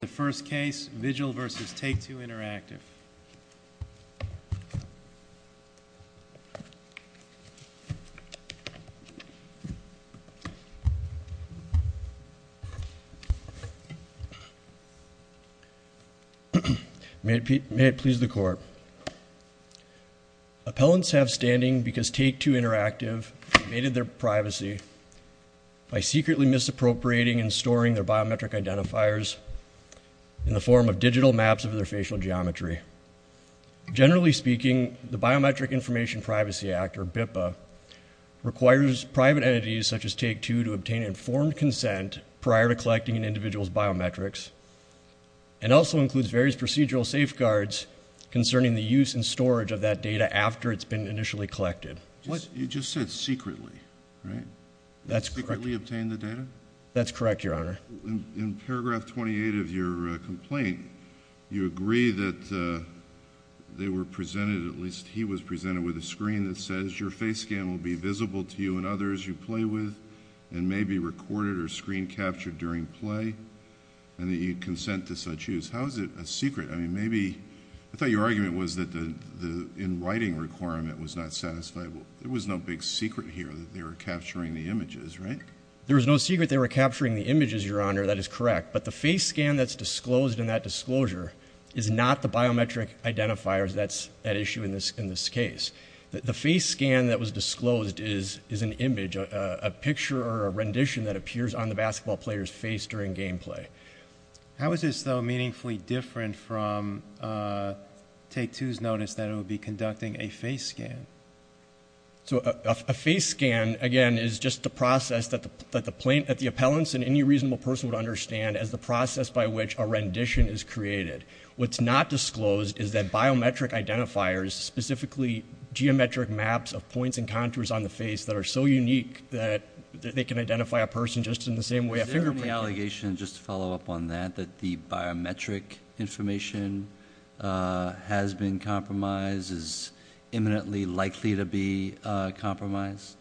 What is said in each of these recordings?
The first case, Vigil v. Take-Two Interactive. May it please the Court. Appellants have standing because Take-Two Interactive invaded their privacy by secretly misappropriating and storing their biometric identifiers in the form of digital maps of their facial geometry. Generally speaking, the Biometric Information Privacy Act, or BIPA, requires private entities such as Take-Two to obtain informed consent prior to collecting an individual's biometrics and also includes various procedural safeguards concerning the use and storage of that data after it's been initially collected. You just said secretly, right? That's correct, Your Honor. In paragraph 28 of your complaint, you agree that they were presented, at least he was presented, with a screen that says your face scan will be visible to you and others you play with and may be recorded or screen captured during play and that you consent to such use. How is it a secret? I thought your argument was that the in-writing requirement was not satisfiable. There was no big secret here that they were capturing the images, right? There was no secret they were capturing the images, Your Honor. That is correct. But the face scan that's disclosed in that disclosure is not the biometric identifiers that's at issue in this case. The face scan that was disclosed is an image, a picture or a rendition that appears on the basketball player's face during game play. How is this, though, meaningfully different from Tattoo's notice that it would be conducting a face scan? So a face scan, again, is just a process that the appellants and any reasonable person would understand as the process by which a rendition is created. What's not disclosed is that biometric identifiers, specifically geometric maps of points and contours on the face that are so unique that they can identify a person just in the same way a fingerprint can. Is there any allegation, just to follow up on that, that the rendition that has been compromised is imminently likely to be compromised?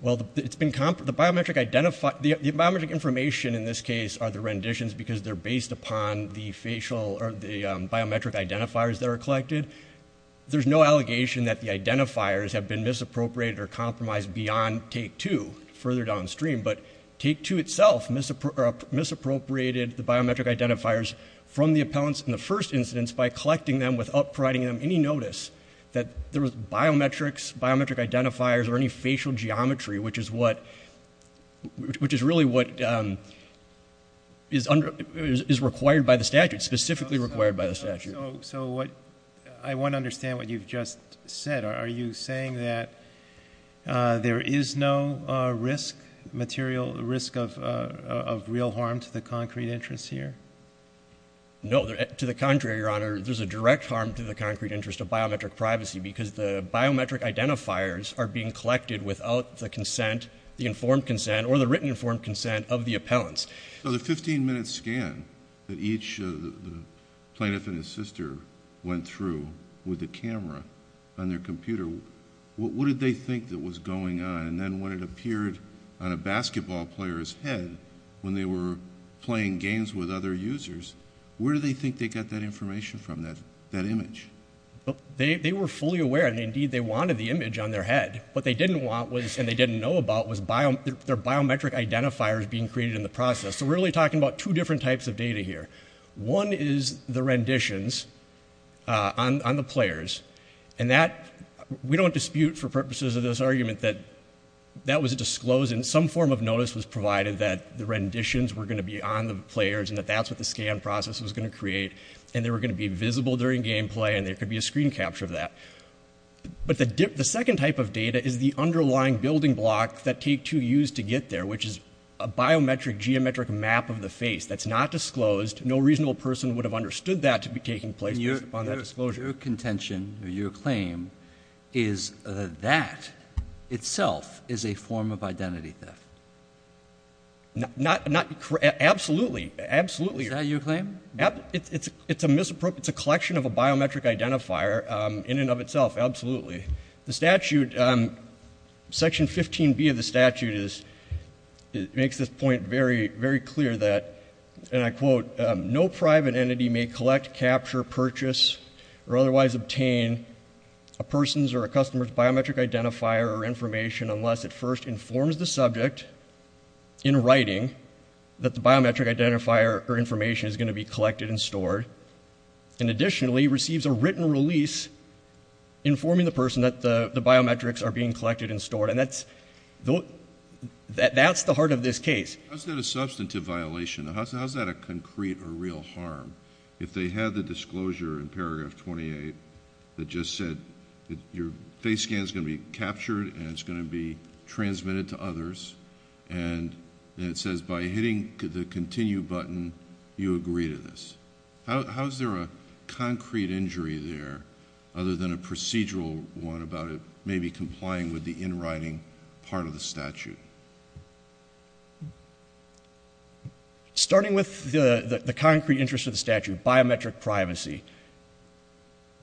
Well, the biometric information in this case are the renditions because they're based upon the facial or the biometric identifiers that are collected. There's no allegation that the identifiers have been misappropriated or compromised beyond Take Two, further downstream. But Take Two itself misappropriated the biometric identifiers from the appellants in the first incidence by collecting them without providing them any notice that there was biometrics, biometric identifiers, or any facial geometry, which is really what is required by the statute, specifically required by the statute. So I want to understand what you've just said. Are you saying that there is no risk of real harm to the concrete interests here? No. To the contrary, Your Honor, there's a direct harm to the concrete interest of biometric privacy because the biometric identifiers are being collected without the consent, the informed consent, or the written informed consent of the appellants. So the 15-minute scan that each plaintiff and his sister went through with the camera on their computer, what did they think that was going on? And then when it appeared on a basketball player's head, when they were playing games with other users, where do they think they got that information from, that image? They were fully aware, and indeed they wanted the image on their head. What they didn't want was, and they didn't know about, was their biometric identifiers being created in the process. So we're really talking about two different types of data here. One is the renditions on the players. And that, we don't dispute for purposes of this argument, that that was disclosed. And some form of notice was provided that the renditions were going to be on the players and that that's what the scan process was going to create. And they were going to be visible during gameplay, and there could be a screen capture of that. But the second type of data is the underlying building block that take two years to get there, which is a biometric geometric map of the face that's not disclosed. No reasonable person would have understood that to be taking place based upon that disclosure. Your contention, or your claim, is that that itself is a form of identity theft? Absolutely. Absolutely. Is that your claim? It's a collection of a biometric identifier in and of itself. Absolutely. The statute, Section 15B of the statute makes this point very clear that, and I quote, no private entity may collect, capture, purchase, or otherwise obtain a person's or a customer's biometric identifier or information unless it first informs the subject in writing that the biometric identifier or information is going to be collected and stored, and additionally receives a written release informing the person that the biometrics are being collected and stored. And that's the heart of this case. How is that a substantive violation? How is that a concrete or real harm? If they had the disclosure in paragraph 28 that just said your face scan is going to be captured and it's going to be transmitted to others, and it says by hitting the continue button, you agree to this, how is there a concrete injury there other than a procedural one about it maybe complying with the in writing part of the statute? Starting with the concrete interest of the statute, biometric privacy.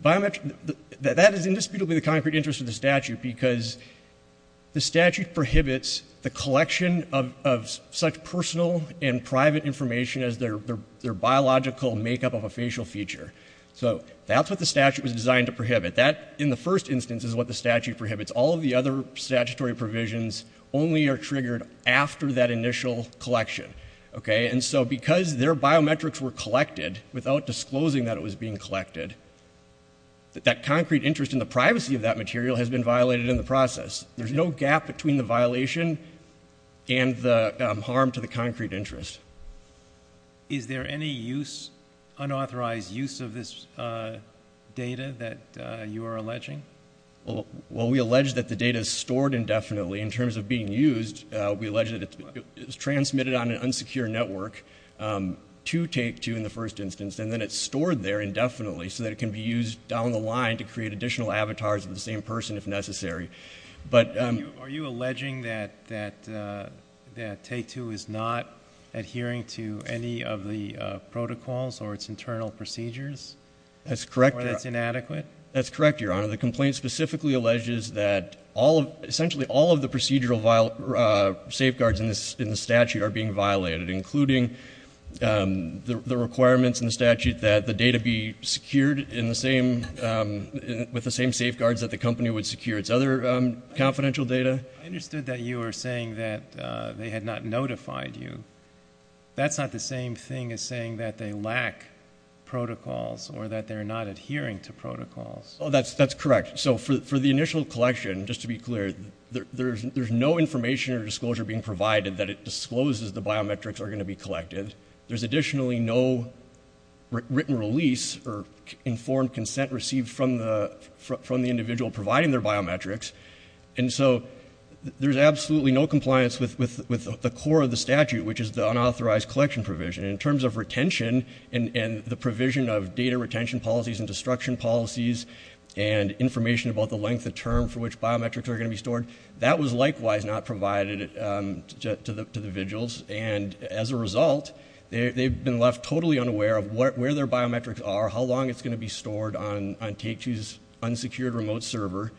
Biometric, that is indisputably the concrete interest of the statute because the statute prohibits the collection of such personal and private information as their biological makeup of a facial feature. So that's what the statute was designed to prohibit. That, in the first instance, is what the statute prohibits. All of the other statutory provisions only are triggered after that initial collection. Okay? And so because their biometrics were collected without disclosing that it was being collected, that concrete interest in the privacy of that material has been violated in the process. There's no gap between the violation and the harm to the concrete interest. Is there any use, unauthorized use of this data that you are alleging? Well, we allege that the data is stored indefinitely in terms of being used. We allege that it's transmitted on an unsecure network to Take-Two in the first instance and then it's stored there indefinitely so that it can be used down the line to create additional avatars of the same person if necessary. Are you alleging that Take-Two is not adhering to any of the protocols or its internal procedures? That's correct, Your Honor. Or that's inadequate? That's correct, Your Honor. The complaint specifically alleges that essentially all of the procedural safeguards in the statute are being violated, including the requirements in the statute that the data be secured with the same safeguards that the company would secure its other confidential data. I understood that you were saying that they had not notified you. That's not the same thing as saying that they lack protocols or that they're not adhering to protocols. That's correct. For the initial collection, just to be clear, there's no information or disclosure being provided that it discloses the biometrics are going to be collected. There's additionally no written release or informed consent received from the individual providing their biometrics. There's absolutely no compliance with the core of the statute, which is the unauthorized collection provision. In terms of retention and the provision of data retention policies and destruction policies and information about the length of term for which biometrics are going to be stored, that was likewise not provided to the individuals. As a result, they've been left totally unaware of where their biometrics are, how long it's going to be stored on Take-Two's unsecured remote server,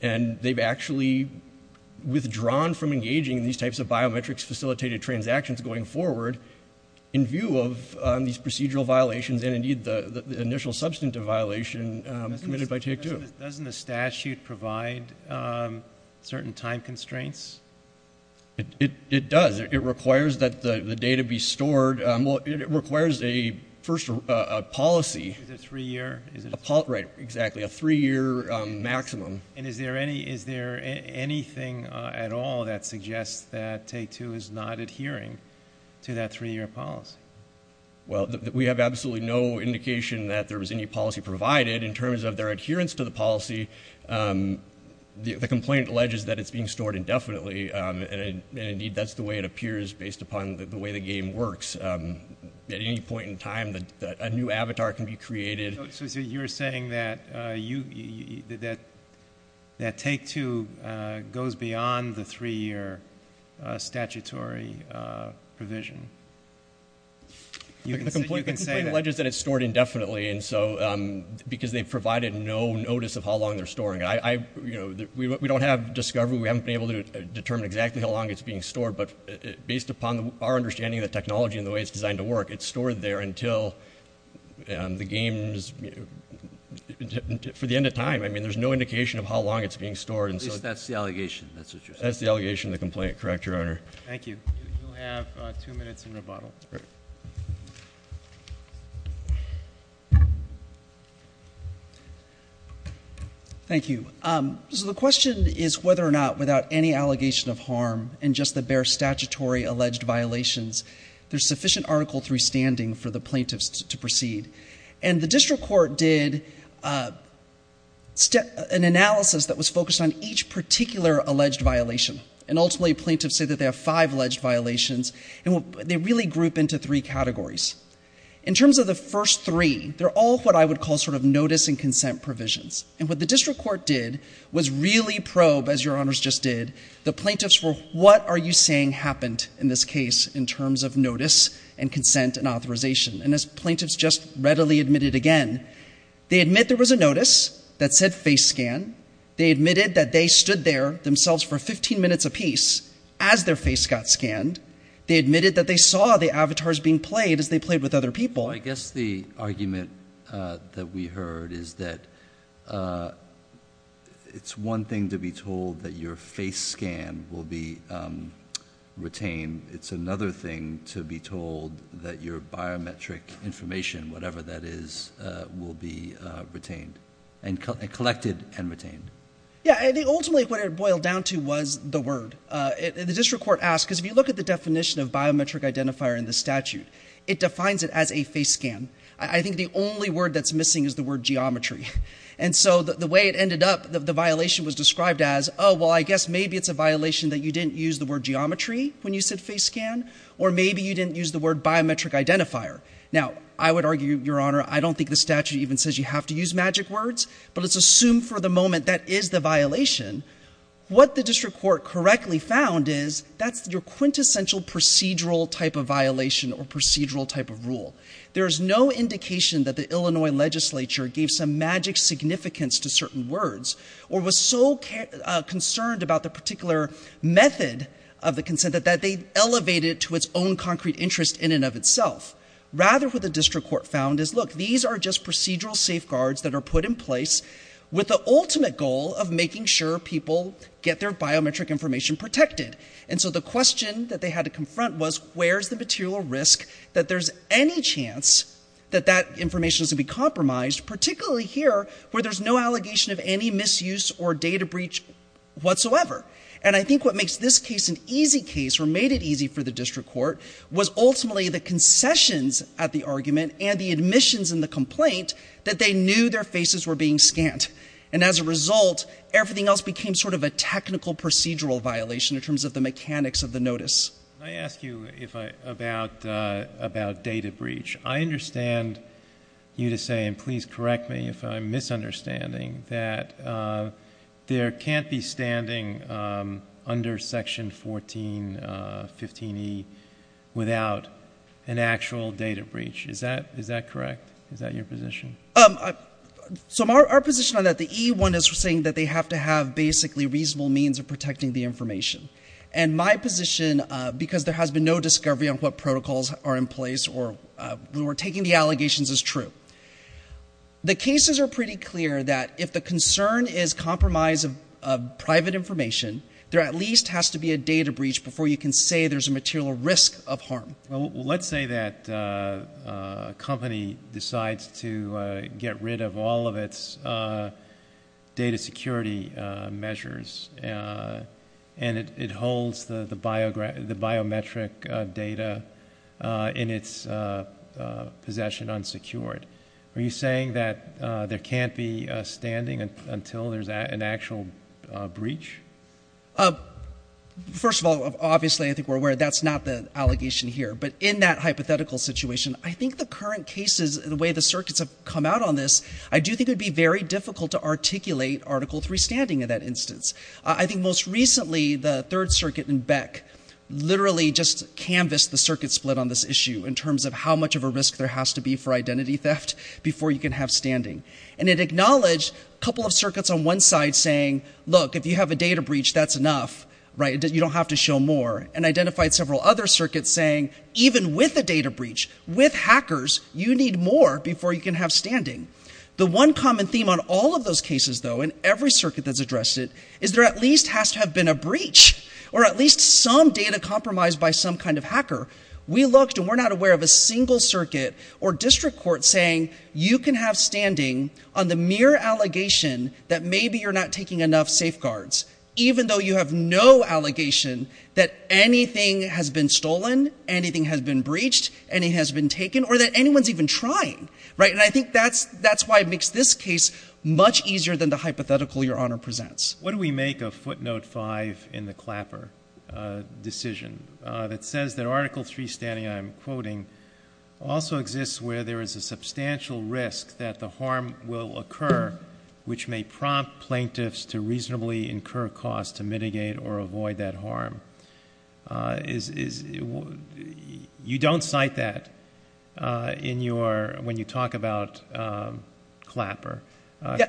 and they've actually withdrawn from engaging in these types of biometrics-facilitated transactions going forward in view of these procedural violations and, indeed, the initial substantive violation committed by Take-Two. Doesn't the statute provide certain time constraints? It does. It requires that the data be stored. It requires a first policy. Is it a three-year? Right. Exactly. A three-year maximum. And is there anything at all that suggests that Take-Two is not adhering to that three-year policy? Well, we have absolutely no indication that there was any policy provided. In terms of their adherence to the policy, the complaint alleges that it's being stored indefinitely. And, indeed, that's the way it appears based upon the way the game works. At any point in time, a new avatar can be created. So you're saying that Take-Two goes beyond the three-year statutory provision? The complaint alleges that it's stored indefinitely because they've provided no notice of how long they're storing it. We don't have discovery. We haven't been able to determine exactly how long it's being stored. But based upon our understanding of the technology and the way it's designed to work, it's stored there until the game is for the end of time. I mean, there's no indication of how long it's being stored. At least that's the allegation. That's what you're saying. That's the allegation of the complaint. Correct, Your Honor. Thank you. You'll have two minutes in rebuttal. Thank you. So the question is whether or not, without any allegation of harm, and just the bare statutory alleged violations, there's sufficient article 3 standing for the plaintiffs to proceed. And the district court did an analysis that was focused on each particular alleged violation. And, ultimately, plaintiffs say that they have five alleged violations. They really group into three categories. In terms of the first three, they're all what I would call sort of notice and consent provisions. And what the district court did was really probe, as Your Honors just did, the plaintiffs were, what are you saying happened in this case in terms of notice and consent and authorization? And as plaintiffs just readily admitted again, they admit there was a notice that said face scan. They admitted that they stood there as their face got scanned. They admitted that they saw the avatars being played as they played with other people. I guess the argument that we heard is that it's one thing to be told that your face scan will be retained. It's another thing to be told that your biometric information, whatever that is, will be retained. And collected and retained. Yeah, and ultimately what it boiled down to was the word. The district court asked, because if you look at the definition of biometric identifier in the statute, it defines it as a face scan. I think the only word that's missing is the word geometry. And so the way it ended up, the violation was described as, oh, well, I guess maybe it's a violation that you didn't use the word geometry when you said face scan, or maybe you didn't use the word biometric identifier. Now, I would argue, Your Honor, I don't think the statute even says you have to use magic words, but let's assume for the moment that is the violation. What the district court correctly found is that's your quintessential procedural type of violation or procedural type of rule. There is no indication that the Illinois legislature gave some magic significance to certain words or was so concerned about the particular method of the consent that they elevated it to its own concrete interest in and of itself. Rather, what the district court found is, look, these are just words that are put in place with the ultimate goal of making sure people get their biometric information protected. And so the question that they had to confront was, where's the material risk that there's any chance that that information is to be compromised, particularly here where there's no allegation of any misuse or data breach whatsoever? And I think what makes this case an easy case or made it easy for the district court was ultimately the concessions at the argument and the admissions and the complaint that they knew their faces were being scanned. And as a result, everything else became sort of a technical procedural violation in terms of the mechanics of the notice. Can I ask you about data breach? I understand you to say, and please correct me if I'm misunderstanding, that there can't be standing under Section 1415E without an actual data breach. Is that correct? Is that your position? So our position on that, the E one is saying that they have to have basically reasonable means of protecting the information. And my position, because there has been no discovery on what protocols are in place or who are taking the allegations, is true. The cases are pretty clear that if the concern is compromise of private information, there at least has to be a data breach before you can say there's a material risk of harm. Well, let's say that a company decides to get rid of all of its data security measures and it holds the biometric data in its possession unsecured. Are you saying that there can't be standing until there's an actual breach? First of all, obviously I think we're aware that's not the allegation here. But in that hypothetical situation, I think the current cases, the way the circuits have come out on this, I do think it would be very difficult to articulate Article III standing in that instance. I think most recently the Third Circuit in Beck literally just canvassed the circuit split on this issue in terms of how much of a risk there has to be for identity theft before you can have standing. And it acknowledged a couple of circuits on one side saying, look, if you have a data breach, that's enough. You don't have to show more. And identified several other circuits saying, even with a data breach, with hackers, you need more before you can have standing. The one common theme on all of those cases, though, in every circuit that's addressed it, is there at least has to have been a breach or at least some data compromised by some kind of hacker. We looked and we're not aware of a single circuit or district court saying you can have standing on the mere allegation that maybe you're not taking enough safeguards, even though you have no allegation that anything has been stolen, anything has been breached, anything has been taken, or that anyone's even trying. And I think that's why it makes this case much easier than the hypothetical Your Honor presents. What do we make of footnote 5 in the Clapper decision that says that Article 3 standing, I'm quoting, also exists where there is a substantial risk that the harm will occur which may prompt plaintiffs to reasonably incur costs to mitigate or avoid that harm? You don't cite that in your when you talk about Clapper.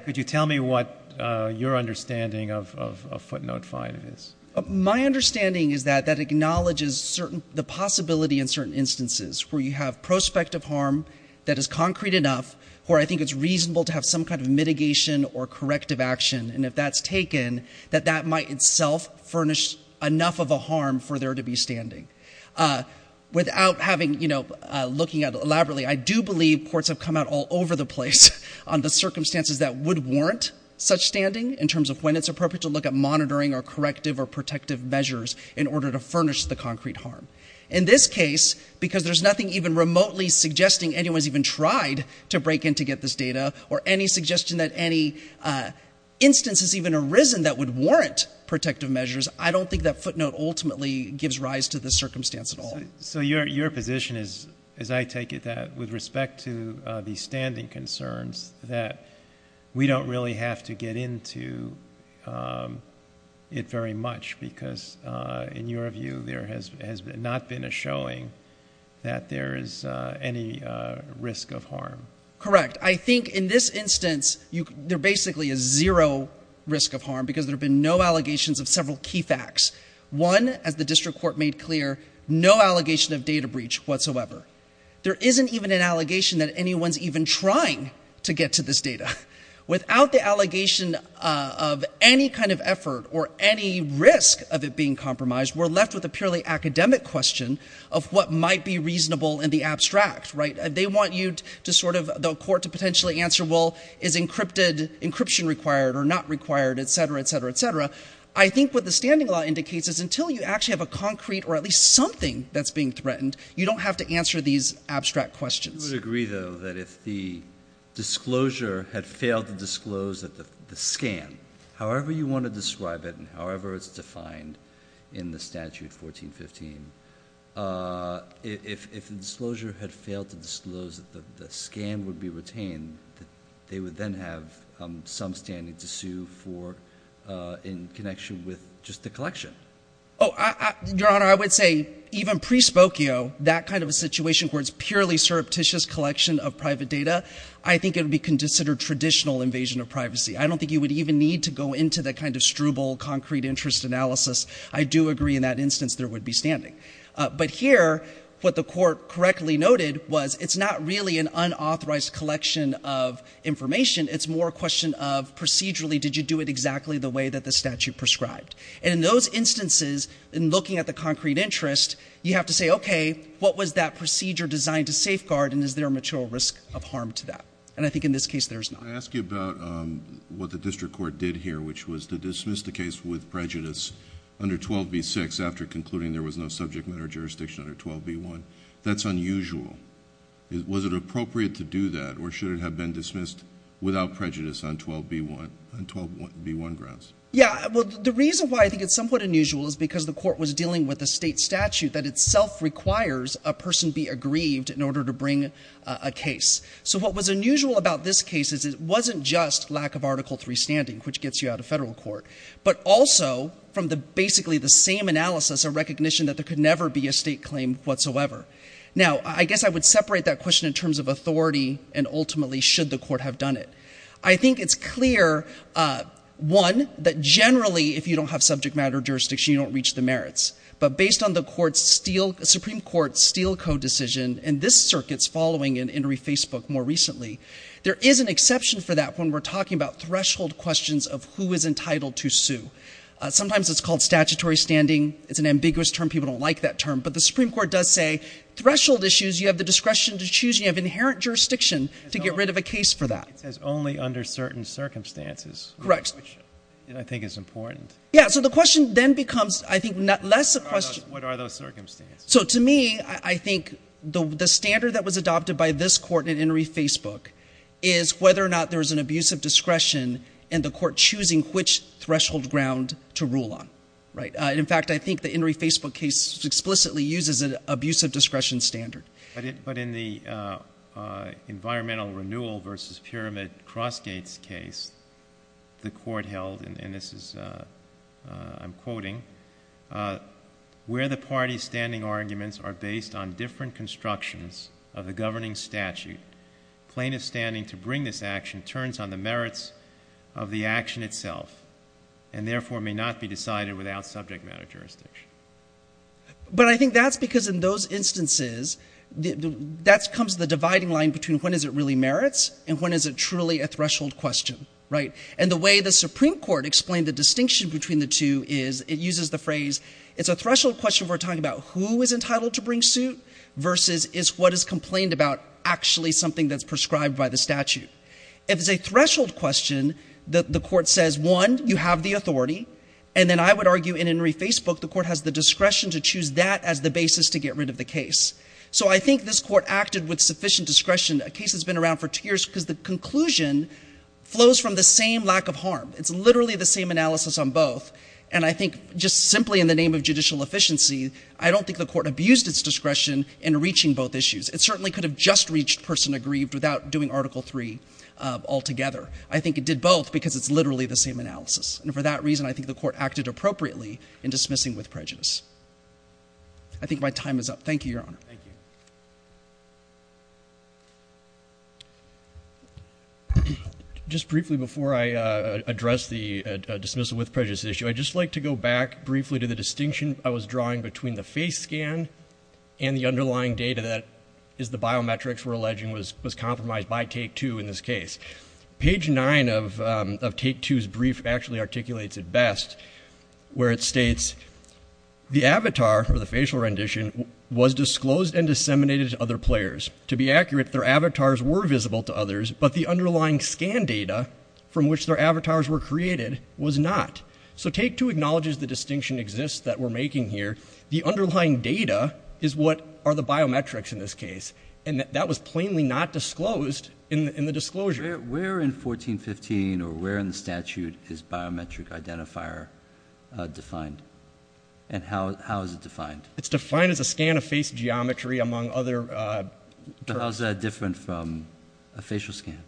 Could you tell me what your understanding of footnote 5 is? My understanding is that that acknowledges certain, the possibility in certain instances where you have prospective harm that is concrete enough where I think it's reasonable to have some kind of mitigation or corrective action. And if that's taken, that that might itself furnish enough of a harm for there to be standing. Without having, you know, looking at elaborately, I do believe courts have come out all over the place on the circumstances that would warrant such standing in terms of when it's appropriate to look at monitoring or corrective or protective measures in order to furnish the concrete harm. In this case, because there's nothing even remotely suggesting anyone's even tried to break in to get this data or any suggestion that any instance has even arisen that would warrant protective measures, I don't think that footnote ultimately gives rise to the circumstance at all. So your position is, as I take it, that with respect to the standing concerns, that we don't really have to get into it very much because in your view, there has not been a showing that there is any risk of harm. Correct. I think in this instance, there basically is zero risk of harm because there have been no allegations of several key facts. One, as the district court made clear, no allegation of data breach whatsoever. There isn't even an allegation that anyone's even trying to get to this data. Without the allegation of any kind of effort or any risk of it being compromised, we're left with a purely academic question of what might be reasonable in the abstract, right? They want you to sort of, the court to potentially answer, well, is encryption required or not required, et cetera, et cetera, et cetera. I think what the standing law indicates is until you actually have a concrete or at least something that's being threatened, you don't have to answer these abstract questions. I would agree, though, that if the disclosure had failed to disclose that the scan, however you want to describe it and however it's defined in the statute 1415, if the disclosure had failed to disclose that the scan would be retained, that they would then have some standing to sue for in connection with just the collection. Oh, Your Honor, I would say even prespokio, that kind of a situation where it's purely surreptitious collection of private data, I think it would be considered traditional invasion of privacy. I don't think you would even need to go into that kind of struble, concrete interest analysis. I do agree in that instance there would be standing. But here, what the court correctly noted was it's not really an unauthorized collection of information. It's more a question of procedurally, did you do it exactly the way that the statute prescribed? And in those instances, in looking at the concrete interest, you have to say, okay, what was that procedure designed to safeguard and is there a material risk of harm to that? And I think in this case, there's not. Can I ask you about what the district court did here, which was to dismiss the case with prejudice under 12b-6 after concluding there was no subject matter jurisdiction under 12b-1. That's unusual. Was it appropriate to do that or should it have been dismissed without prejudice on 12b-1 grounds? Yeah, well, the reason why I think it's somewhat unusual is because the court was dealing with a state statute that itself requires a person be aggrieved in order to bring a case. So what was unusual about this case is it wasn't just lack of Article III standing, which gets you out of federal court, but also from the basically the same analysis of recognition that there could never be a state claim whatsoever. Now, I guess I would separate that question in terms of authority and ultimately should the court have done it. I think it's clear, one, that generally if you don't have subject matter jurisdiction, you don't reach the merits. But based on the Supreme Court's Steele Code decision, and this circuit's following an entry Facebook more recently, there is an exception for that when we're talking about threshold questions of who is entitled to sue. Sometimes it's called statutory standing. It's an ambiguous term. People don't like that term. But the Supreme Court does say threshold issues, you have the discretion to choose, you have inherent jurisdiction to get rid of a case for that. It says only under certain circumstances. Correct. Which I think is important. Yeah, so the question then becomes, I think, not less a question. What are those circumstances? So to me, I think the standard that was adopted by this court in entry Facebook is whether or not there is an abuse of discretion and the court choosing which threshold ground to rule on, right? In fact, I think the entry Facebook case explicitly uses an abuse of discretion standard. But in the environmental renewal versus pyramid Crossgate's case, the court held, and this is, I'm quoting, where the party's standing arguments are based on different constructions of the governing statute, plaintiff's standing to bring this action turns on the merits of the action itself and therefore may not be decided without subject matter jurisdiction. But I think that's because in those instances, that comes the dividing line between when is it really merits and when is it truly a threshold question, right? And the way the Supreme Court explained the distinction between the two is, it uses the phrase, it's a threshold question we're talking about who is entitled to bring suit versus is what is complained about actually something that's prescribed by the statute. If it's a threshold question, the court says, one, you have the authority, and then I would argue in entry Facebook, the court has the authority to get rid of the case. So I think this court acted with sufficient discretion. A case has been around for two years because the conclusion flows from the same lack of harm. It's literally the same analysis on both. And I think just simply in the name of judicial efficiency, I don't think the court abused its discretion in reaching both issues. It certainly could have just reached person aggrieved without doing Article III altogether. I think it did both because it's literally the same analysis. And for that reason, I think the case is up. Thank you, Your Honor. Just briefly before I address the dismissal with prejudice issue, I'd just like to go back briefly to the distinction I was drawing between the face scan and the underlying data that is the biometrics we're alleging was compromised by take two in this case. Page nine of take two's brief actually articulates it best where it states, the avatar or the facial rendition was disclosed and disseminated to other players. To be accurate, their avatars were visible to others, but the underlying scan data from which their avatars were created was not. So take two acknowledges the distinction exists that we're making here. The underlying data is what are the biometrics in this case. And that was plainly not disclosed in the disclosure. Where in 1415 or where in the statute is biometric identifier defined? And how is it defined? It's defined as a scan of face geometry among other terms. But how is that different from a facial scan?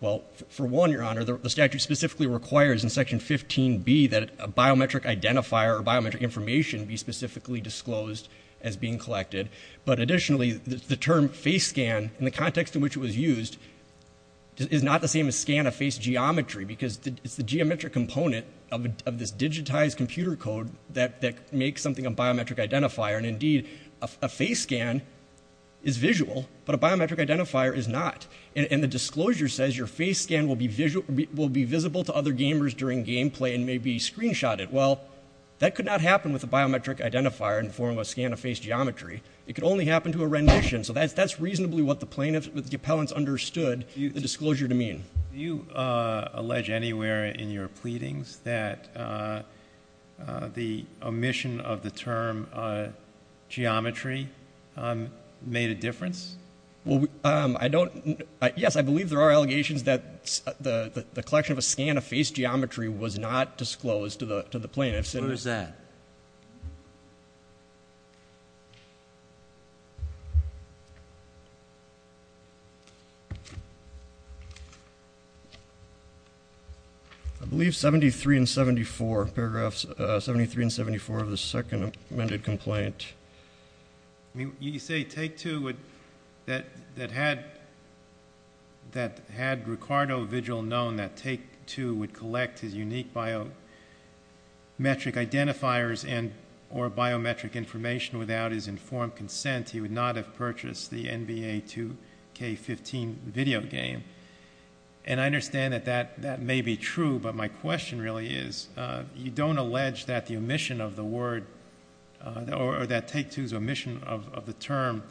Well, for one, Your Honor, the statute specifically requires in section 15B that a biometric identifier or biometric information be specifically disclosed as being collected. But additionally, the term face scan in the context in which it was used is not the same as scan of face geometry, because it's the geometric component of this digitized computer code that makes something a biometric identifier. And indeed, a face scan is visual, but a biometric identifier is not. And the disclosure says your face scan will be visible to other gamers during gameplay and maybe screenshot it. Well, that could not happen with a biometric identifier in the form of a scan of face geometry. It could only happen to a rendition. So that's reasonably what the plaintiffs, the appellants, understood the disclosure to mean. Do you allege anywhere in your pleadings that the omission of the term geometry made a difference? Well, I don't. Yes, I believe there are allegations that the collection of a scan of face geometry was not disclosed to the plaintiffs. What is that? I believe 73 and 74, paragraphs 73 and 74 of the second amended complaint. You say take two that had Ricardo Vigil known that take two would collect his unique biometric identifiers and or biometric information without his informed consent, he would not have purchased the NBA 2K15 video game. And I understand that that may be true, but my question really is, you don't allege that the omission of the word or that take two's omission of the term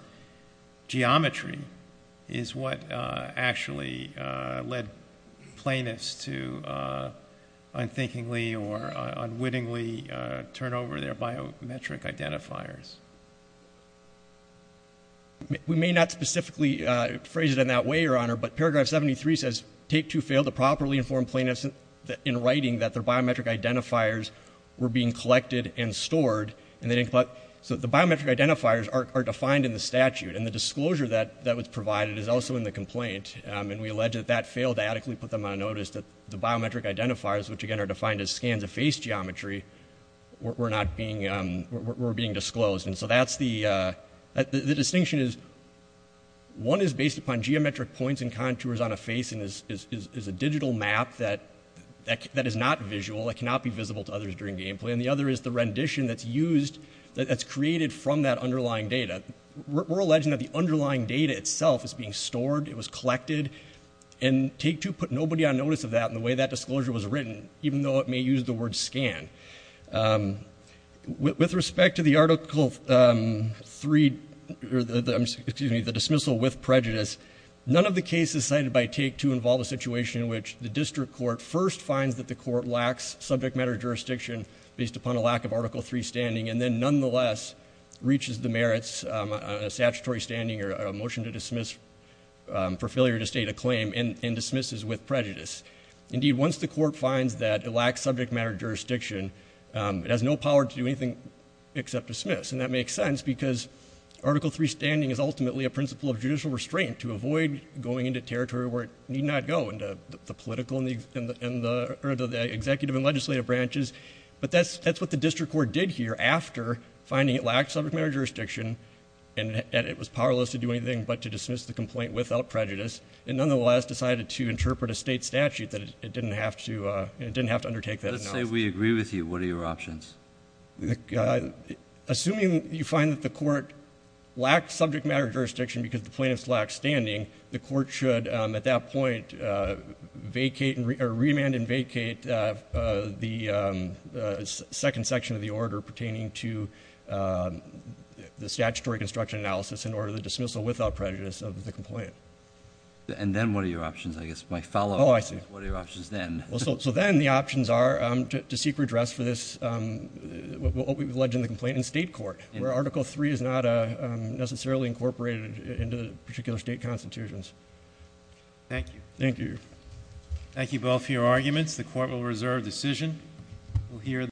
geometry is what actually led plaintiffs to unthinkingly or unwittingly turn over their biometric identifiers? We may not specifically phrase it in that way, Your Honor, but paragraph 73 says take two failed to properly inform plaintiffs in writing that their biometric identifiers were being collected and stored. So the biometric identifiers are defined in the statute, and the disclosure that was provided is also in the complaint. And we allege that that failed to adequately put them on notice that the biometric identifiers, which again are defined as scans of face geometry, were being disclosed. And so that's the distinction is one is based upon geometric points and contours on a face and is a digital map that is not visual, that cannot be visible to others during gameplay. And the other is the rendition that's used, that's created from that underlying data. We're saying it was being stored, it was collected, and take two put nobody on notice of that and the way that disclosure was written, even though it may use the word scan. With respect to the article three... excuse me, the dismissal with prejudice, none of the cases cited by take two involve a situation in which the district court first finds that the court lacks subject matter jurisdiction based upon a lack of article three standing and then nonetheless reaches the merits on a statutory standing or a motion to dismiss for failure to state a claim and dismisses with prejudice. Indeed, once the court finds that it lacks subject matter jurisdiction, it has no power to do anything except dismiss. And that makes sense because article three standing is ultimately a principle of judicial restraint to avoid going into territory where it need not go, into the political and the executive and legislative branches. But that's what the district court did here after finding it lacked subject matter jurisdiction and it was powerless to do anything but to dismiss the complaint without prejudice and nonetheless decided to interpret a state statute that it didn't have to undertake that. Let's say we agree with you. What are your options? Assuming you find that the court lacked subject matter jurisdiction because the plaintiffs lacked standing, the court should at that point vacate or remand and vacate the second section of the order pertaining to the statutory construction analysis in order to dismissal without prejudice of the complaint. And then what are your options? I guess my follow-up is what are your options then? So then the options are to seek redress for this, what we alleged in the complaint, in state court where article three is not a necessarily incorporated into the particular state constitutions. Thank you. Thank you. Thank you both for your arguments. The court will reserve decision.